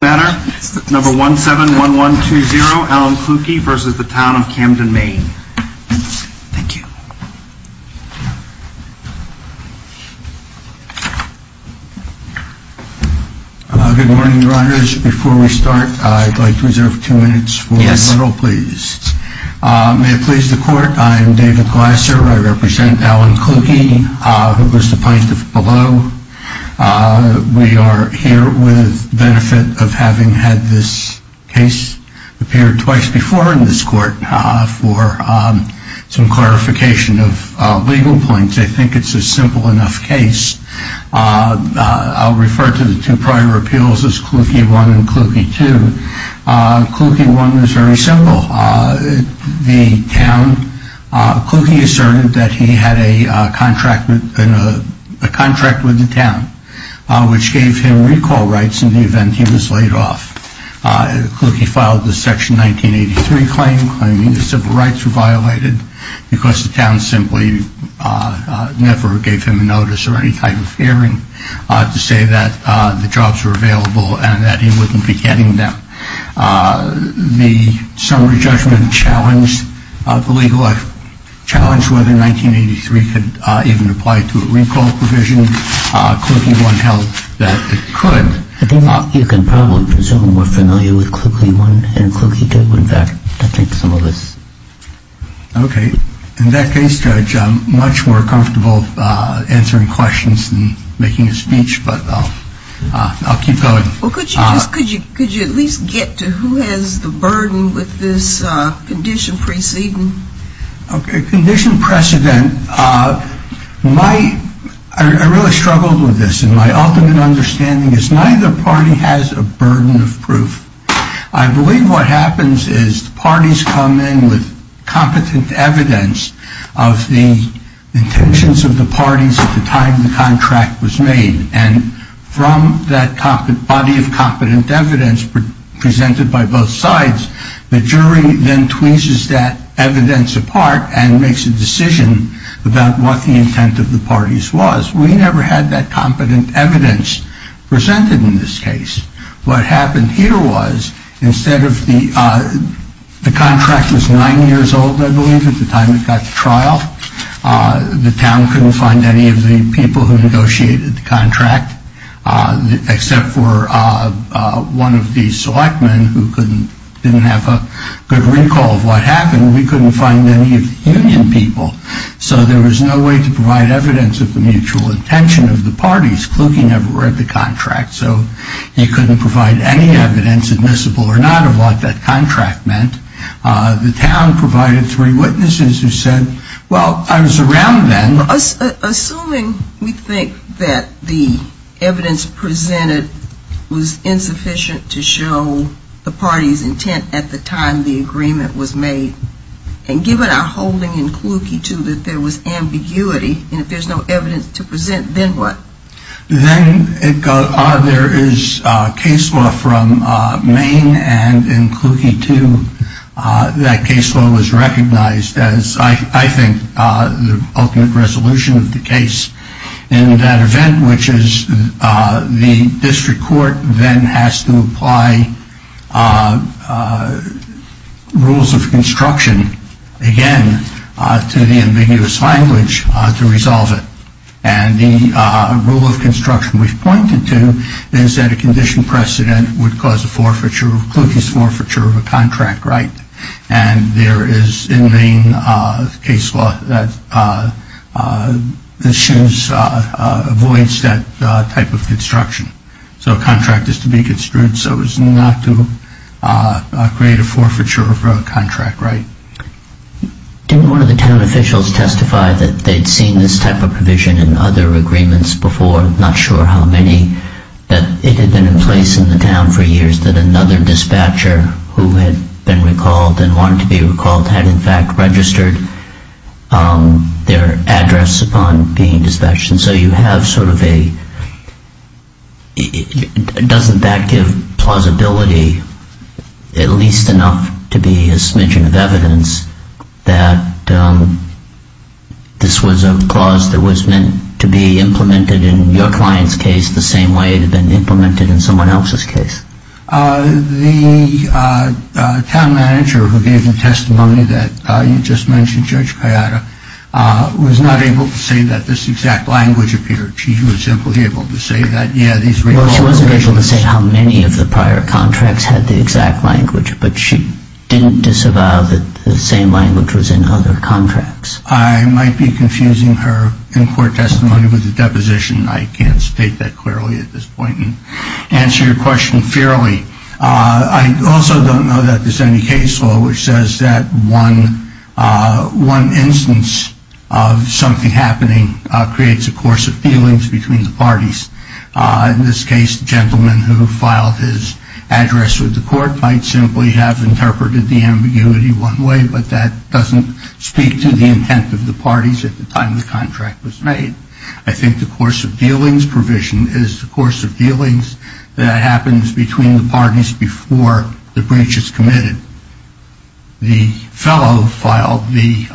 Good morning, riders. Before we start, I'd like to reserve two minutes for a little please. May it please the court, I am David Glasser. I represent Alan Klukey, who was the plaintiff below. We are here with the benefit of having had this case appear twice before in this court for some clarification of legal points. I think it's a simple enough case. I'll refer to the two prior appeals as Klukey 1 and Klukey 2. Klukey 1 was very simple. Klukey asserted that he had a contract with the town, which gave him recall rights in the event he was laid off. Klukey filed the Section 1983 claim, claiming that civil rights were violated because the town simply never gave him a notice or any type of hearing to say that the jobs were available and that he wouldn't be getting them. The summary judgment challenged whether 1983 could even apply to a recall provision. Klukey 1 held that it could. I think you can probably presume we're familiar with Klukey 1 and Klukey 2. In fact, I think some of us. Okay. In that case, Judge, I'm much more comfortable answering questions than making a speech, but I'll keep going. Could you at least get to who has the burden with this condition preceding? Condition precedent. I really struggled with this, and my ultimate understanding is neither party has a burden of proof. I believe what happens is parties come in with competent evidence of the intentions of the parties at the time the contract was made. And from that body of competent evidence presented by both sides, the jury then tweezes that evidence apart and makes a decision about what the intent of the parties was. We never had that competent evidence presented in this case. What happened here was instead of the contract was nine years old, I believe, at the time it got to trial, the town couldn't find any of the people who negotiated the contract, except for one of the selectmen who didn't have a good recall of what happened. We couldn't find any of the union people. So there was no way to provide evidence of the mutual intention of the parties. Kluge never read the contract, so he couldn't provide any evidence admissible or not of what that contract meant. The town provided three witnesses who said, well, I was around then. Assuming we think that the evidence presented was insufficient to show the party's intent at the time the agreement was made, and given our holding in Kluge II that there was ambiguity and if there's no evidence to present, then what? Then there is case law from Maine and in Kluge II that case law was recognized as, I think, the ultimate resolution of the case. In that event, which is the district court then has to apply rules of construction again to the ambiguous language to resolve it. And the rule of construction we've pointed to is that a condition precedent would cause a forfeiture, a Kluge's forfeiture of a contract right. And there is in Maine case law that avoids that type of construction. So a contract is to be construed so as not to create a forfeiture of a contract right. Didn't one of the town officials testify that they'd seen this type of provision in other agreements before? I'm not sure how many, but it had been in place in the town for years that another dispatcher who had been recalled and wanted to be recalled had in fact registered their address upon being dispatched. And so you have sort of a, doesn't that give plausibility at least enough to be a smidgen of evidence that this was a clause that was meant to be implemented in your client's case the same way it had been implemented in someone else's case? The town manager who gave the testimony that you just mentioned, Judge Kayada, was not able to say that this exact language appeared. She was simply able to say that, yeah, these were all the provisions. Well, she wasn't able to say how many of the prior contracts had the exact language, but she didn't disavow that the same language was in other contracts. I might be confusing her in-court testimony with a deposition. I can't state that clearly at this point and answer your question fairly. I also don't know that there's any case law which says that one instance of something happening creates a course of feelings between the parties. In this case, the gentleman who filed his address with the court might simply have interpreted the ambiguity one way, but that doesn't speak to the intent of the parties at the time the contract was made. I think the course of dealings provision is the course of dealings that happens between the parties before the breach is committed. The fellow filed the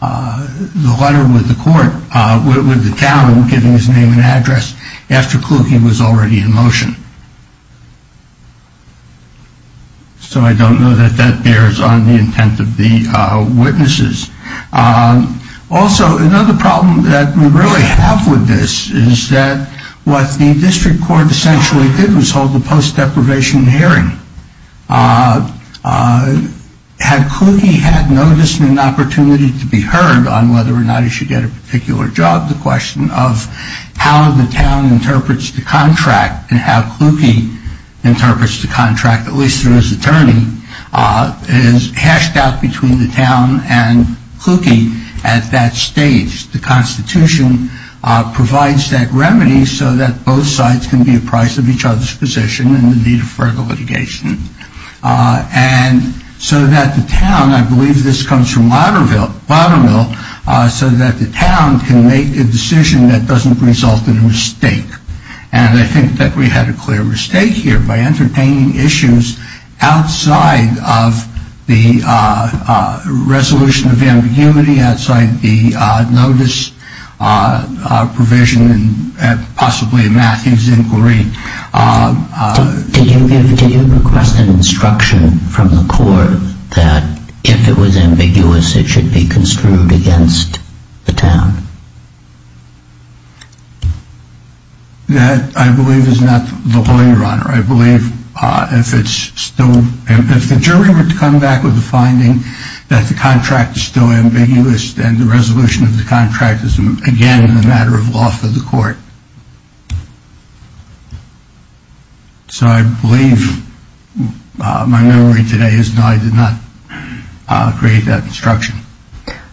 letter with the town giving his name and address after Kluge was already in motion. So I don't know that that bears on the intent of the witnesses. Also, another problem that we really have with this is that what the district court essentially did was hold a post-deprivation hearing. Had Kluge had noticed an opportunity to be heard on whether or not he should get a particular job, the question of how the town interprets the contract and how Kluge interprets the contract, at least through his attorney, is hashed out between the town and Kluge at that stage. The Constitution provides that remedy so that both sides can be apprised of each other's position in the need of further litigation. And so that the town, I believe this comes from Watermill, so that the town can make a decision that doesn't result in a mistake. And I think that we had a clear mistake here by entertaining issues outside of the resolution of ambiguity, outside the notice provision and possibly Matthew's inquiry. Did you request an instruction from the court that if it was ambiguous, it should be construed against the town? That, I believe, is not the way, Your Honor. I believe if the jury were to come back with a finding that the contract is still ambiguous then the resolution of the contract is again a matter of law for the court. So I believe my memory today is that I did not create that instruction.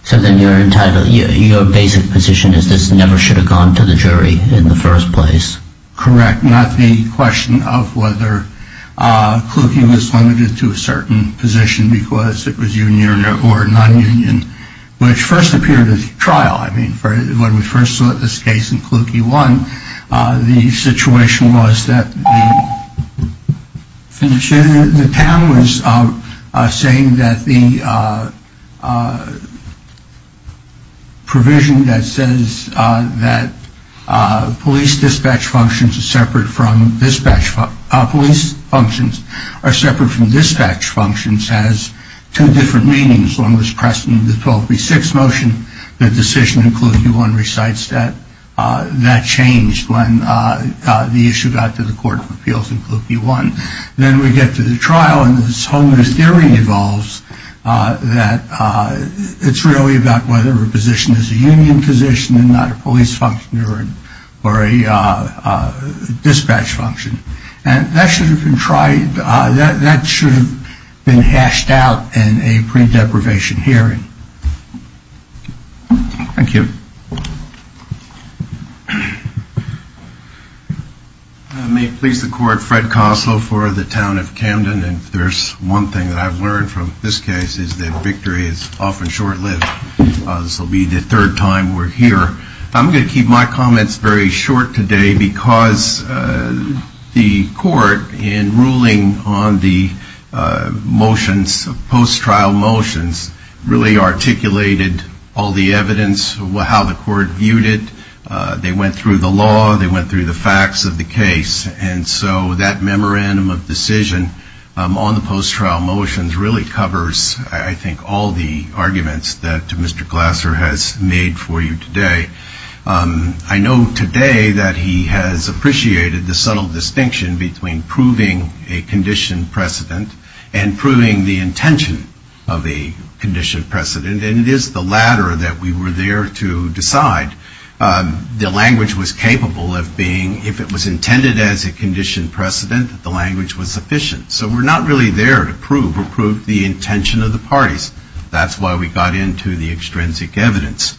So then your basic position is this never should have gone to the jury in the first place? Correct. Not the question of whether Kluge was limited to a certain position because it was union or non-union, which first appeared at the trial. I mean, when we first saw this case in Kluge 1, the situation was that the town was saying that the provision that says that police dispatch functions are separate from dispatch functions has two different meanings as long as pressed in the 12B6 motion, the decision in Kluge 1 recites that. That changed when the issue got to the Court of Appeals in Kluge 1. Then we get to the trial and this whole new theory evolves that it's really about whether a position is a union position and not a police function or a dispatch function. And that should have been hashed out in a print deprivation hearing. Thank you. May it please the court, Fred Koslow for the town of Camden. And there's one thing that I've learned from this case is that victory is often short-lived. This will be the third time we're here. I'm going to keep my comments very short today because the court in ruling on the motions, post-trial motions, really articulated all the evidence, how the court viewed it. They went through the law. They went through the facts of the case. And so that memorandum of decision on the post-trial motions really covers, I think, all the arguments that Mr. Glasser has made for you today. I know today that he has appreciated the subtle distinction between proving a condition precedent and proving the intention of a condition precedent. And it is the latter that we were there to decide. The language was capable of being, if it was intended as a condition precedent, the language was sufficient. So we're not really there to prove or prove the intention of the parties. That's why we got into the extrinsic evidence.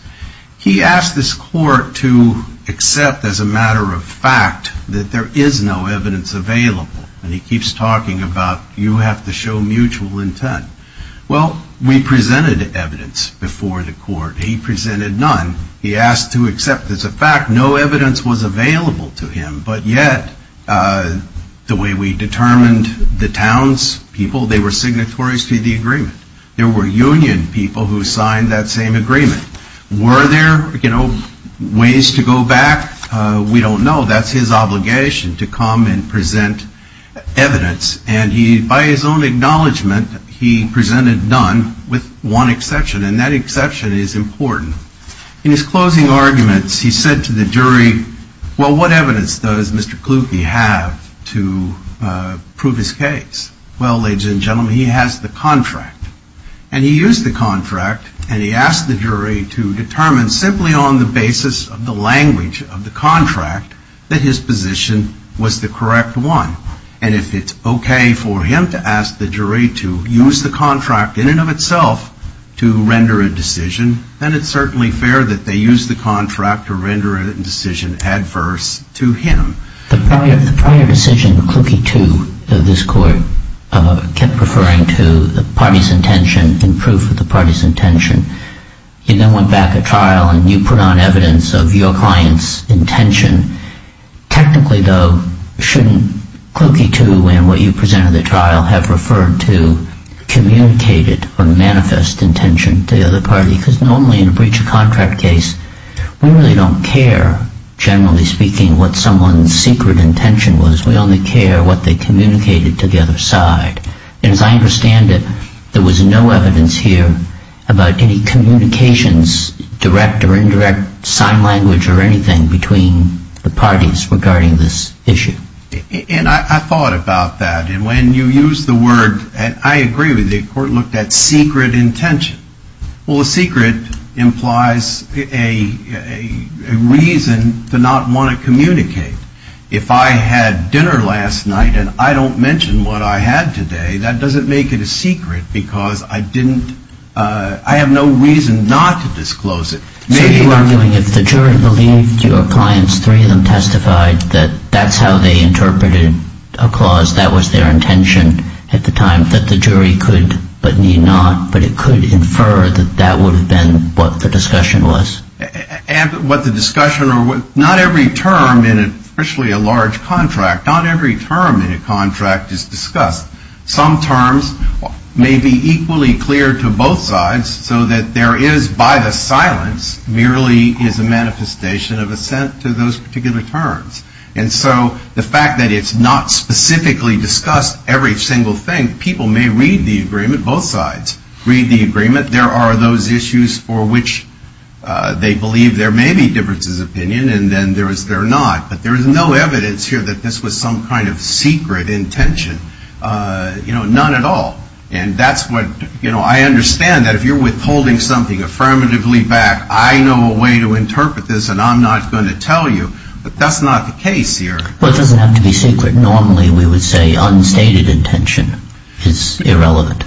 He asked this court to accept as a matter of fact that there is no evidence available. And he keeps talking about you have to show mutual intent. Well, we presented evidence before the court. He presented none. He asked to accept as a fact no evidence was available to him. But yet, the way we determined the townspeople, they were signatories to the agreement. There were union people who signed that same agreement. Were there ways to go back? We don't know. That's his obligation to come and present evidence. And by his own acknowledgment, he presented none with one exception. And that exception is important. In his closing arguments, he said to the jury, well, what evidence does Mr. Kluge have to prove his case? Well, ladies and gentlemen, he has the contract. And he used the contract, and he asked the jury to determine simply on the basis of the language of the contract that his position was the correct one. And if it's okay for him to ask the jury to use the contract in and of itself to render a decision, then it's certainly fair that they use the contract to render a decision adverse to him. The prior decision, Kluge 2 of this court, kept referring to the party's intention and proof of the party's intention. He then went back at trial, and you put on evidence of your client's intention. Technically, though, shouldn't Kluge 2 and what you presented at trial have referred to communicated or manifest intention to the other party? Because normally in a breach of contract case, we really don't care, generally speaking, what someone's secret intention was. We only care what they communicated to the other side. And as I understand it, there was no evidence here about any communications, direct or indirect, sign language or anything between the parties regarding this issue. And I thought about that. And when you use the word, and I agree with you, the court looked at secret intention. Well, a secret implies a reason to not want to communicate. If I had dinner last night and I don't mention what I had today, that doesn't make it a secret because I have no reason not to disclose it. So you're arguing if the jury believed your client's three of them testified that that's how they interpreted a clause, that was their intention at the time, that the jury could but need not, but it could infer that that would have been what the discussion was? Not every term, especially a large contract, not every term in a contract is discussed. Some terms may be equally clear to both sides so that there is, by the silence, merely is a manifestation of assent to those particular terms. And so the fact that it's not specifically discussed every single thing, people may read the agreement, both sides read the agreement. There are those issues for which they believe there may be differences of opinion and then there is there not. But there is no evidence here that this was some kind of secret intention, you know, none at all. And that's what, you know, I understand that if you're withholding something affirmatively back, I know a way to interpret this and I'm not going to tell you, but that's not the case here. Well, it doesn't have to be secret. Normally we would say unstated intention is irrelevant.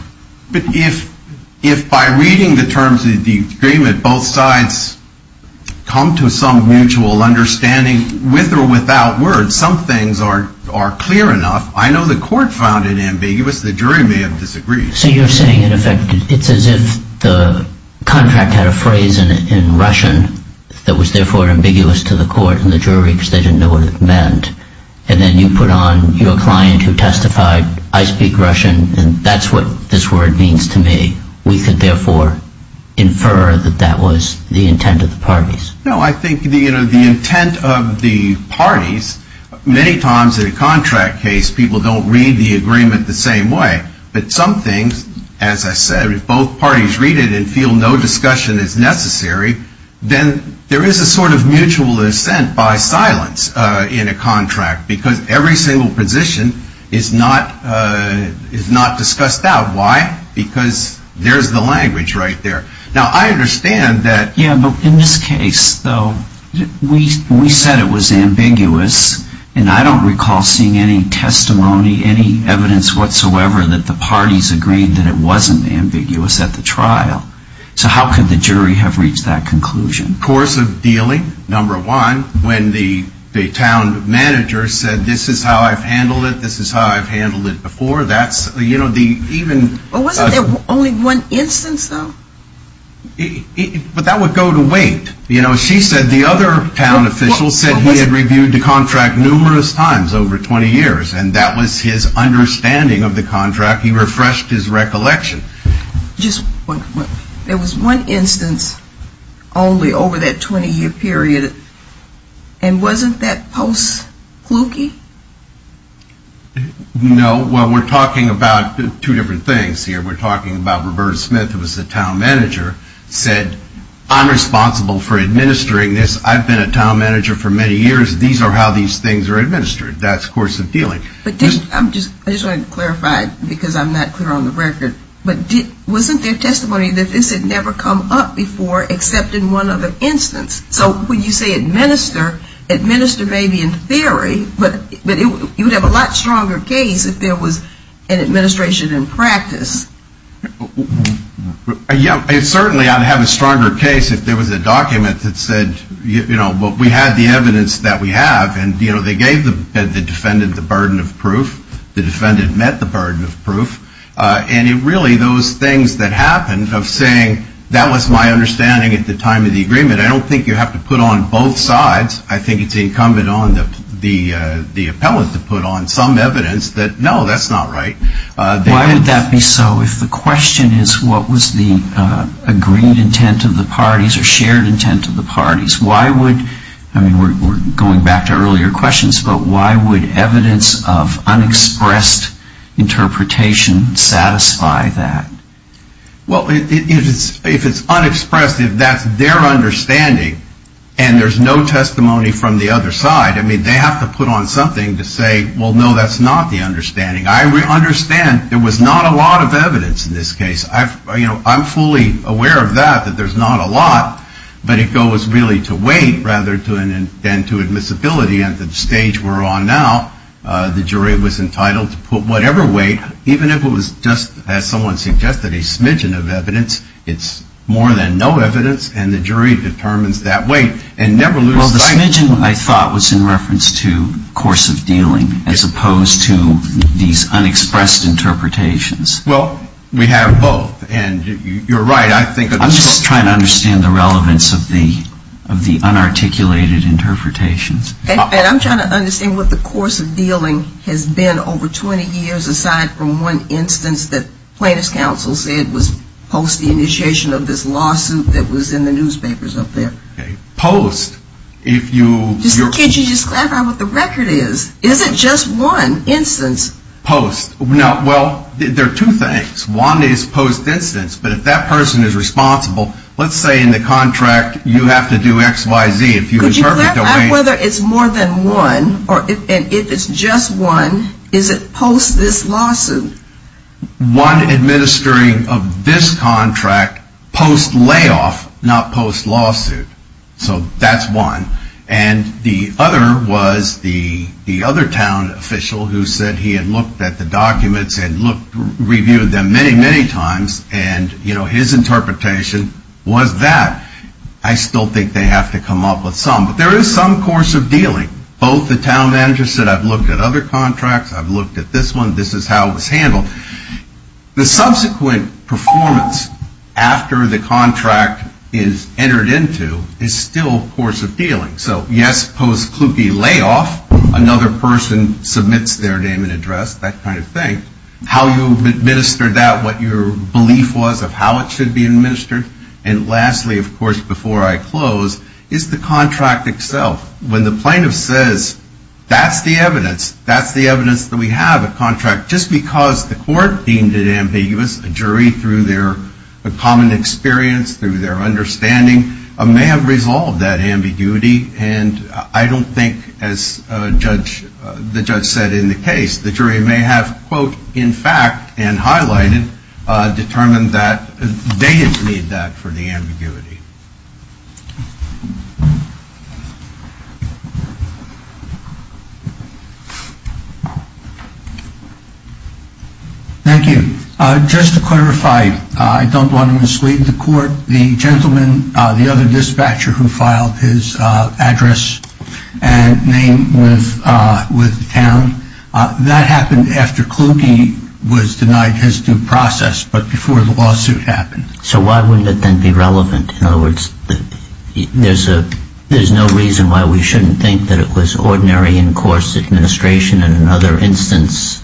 But if if by reading the terms of the agreement, both sides come to some mutual understanding with or without words, some things are are clear enough. I know the court found it ambiguous. The jury may have disagreed. So you're saying in effect, it's as if the contract had a phrase in Russian that was therefore ambiguous to the court and the jury because they didn't know what it meant. And then you put on your client who testified, I speak Russian. And that's what this word means to me. We could therefore infer that that was the intent of the parties. No, I think the intent of the parties, many times in a contract case, people don't read the agreement the same way. But some things, as I said, if both parties read it and feel no discussion is necessary, then there is a sort of mutual dissent by silence in a contract because every single position is not is not discussed out. Why? Because there's the language right there. Now, I understand that. Yeah, but in this case, though, we we said it was ambiguous. And I don't recall seeing any testimony, any evidence whatsoever that the parties agreed that it wasn't ambiguous at the trial. So how could the jury have reached that conclusion? Course of dealing. Number one, when the town manager said, this is how I've handled it. This is how I've handled it before. That's, you know, the even only one instance, though. But that would go to wait. You know, she said the other town official said he had reviewed the contract numerous times over 20 years. And that was his understanding of the contract. He refreshed his recollection. There was one instance only over that 20-year period. And wasn't that post-Kluge? No. Well, we're talking about two different things here. We're talking about Roberta Smith, who was the town manager, said, I'm responsible for administering this. I've been a town manager for many years. These are how these things are administered. That's course of dealing. I just want to clarify, because I'm not clear on the record. Wasn't there testimony that this had never come up before except in one other instance? So when you say administer, administer may be in theory, but you would have a lot stronger case if there was an administration in practice. Yeah, certainly I would have a stronger case if there was a document that said, you know, we had the evidence that we have, and, you know, they gave the defendant the burden of proof. The defendant met the burden of proof. And it really, those things that happened of saying that was my understanding at the time of the agreement, I don't think you have to put on both sides. I think it's incumbent on the appellant to put on some evidence that, no, that's not right. Why would that be so if the question is what was the agreed intent of the parties or shared intent of the parties? Why would, I mean, we're going back to earlier questions, but why would evidence of unexpressed interpretation satisfy that? Well, if it's unexpressed, if that's their understanding and there's no testimony from the other side, I mean, they have to put on something to say, well, no, that's not the understanding. I understand there was not a lot of evidence in this case. I'm fully aware of that, that there's not a lot, but it goes really to weight rather than to admissibility. And at the stage we're on now, the jury was entitled to put whatever weight, even if it was just, as someone suggested, a smidgen of evidence, it's more than no evidence, and the jury determines that weight and never loses sight of it. Well, the smidgen, I thought, was in reference to course of dealing as opposed to these unexpressed interpretations. Well, we have both, and you're right. I'm just trying to understand the relevance of the unarticulated interpretations. And I'm trying to understand what the course of dealing has been over 20 years, aside from one instance that plaintiff's counsel said was post the initiation of this lawsuit that was in the newspapers up there. Okay, post, if you – Just look at you, just clarify what the record is. Is it just one instance? Post. Well, there are two things. One is post instance, but if that person is responsible, let's say in the contract you have to do X, Y, Z. Could you clarify whether it's more than one, or if it's just one, is it post this lawsuit? One administering of this contract post layoff, not post lawsuit. So that's one. And the other was the other town official who said he had looked at the documents and reviewed them many, many times, and his interpretation was that. I still think they have to come up with some, but there is some course of dealing. Both the town managers said, I've looked at other contracts, I've looked at this one, this is how it was handled. The subsequent performance after the contract is entered into is still course of dealing. So, yes, post Kluge layoff, another person submits their name and address, that kind of thing. How you administer that, what your belief was of how it should be administered. And lastly, of course, before I close, is the contract itself. When the plaintiff says that's the evidence, that's the evidence that we have, a contract, just because the court deemed it ambiguous, a jury through their common experience, through their understanding, may have resolved that ambiguity. And I don't think, as the judge said in the case, the jury may have, quote, in fact, and highlighted, determined that they didn't need that for the ambiguity. Thank you. Just to clarify, I don't want to mislead the court. The gentleman, the other dispatcher who filed his address and name with the town, that happened after Kluge was denied his due process, but before the lawsuit happened. So why wouldn't it then be relevant? In other words, there's no reason why we shouldn't think that it was ordinary in course administration in another instance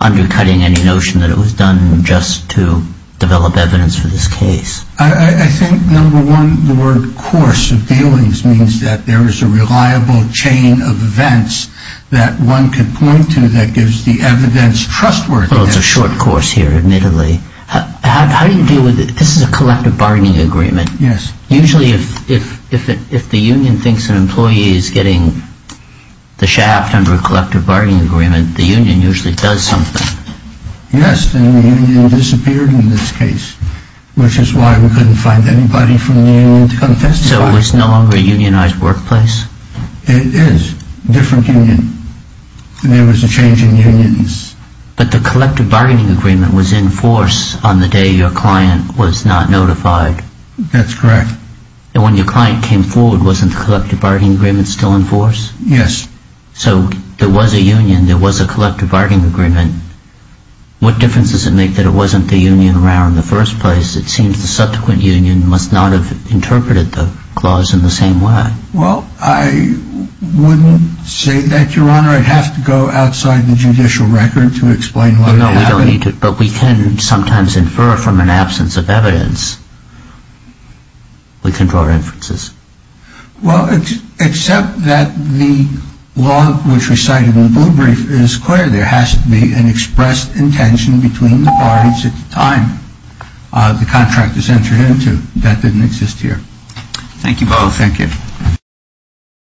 undercutting any notion that it was done just to develop evidence for this case. I think, number one, the word course of dealings means that there is a reliable chain of events that one could point to that gives the evidence trustworthiness. Well, it's a short course here, admittedly. How do you deal with it? This is a collective bargaining agreement. Yes. Usually, if the union thinks an employee is getting the shaft under a collective bargaining agreement, the union usually does something. Yes, and the union disappeared in this case, which is why we couldn't find anybody from the union to come testify. So it's no longer a unionized workplace? It is. Different union. There was a change in unions. But the collective bargaining agreement was in force on the day your client was not notified. That's correct. And when your client came forward, wasn't the collective bargaining agreement still in force? Yes. So there was a union, there was a collective bargaining agreement. What difference does it make that it wasn't the union around in the first place? It seems the subsequent union must not have interpreted the clause in the same way. Well, I wouldn't say that, Your Honor. I'd have to go outside the judicial record to explain why that happened. No, we don't need to. But we can sometimes infer from an absence of evidence. We can draw references. Well, except that the law which we cited in the blue brief is clear. There has to be an expressed intention between the parties at the time the contract is entered into. That didn't exist here. Thank you both. Thank you.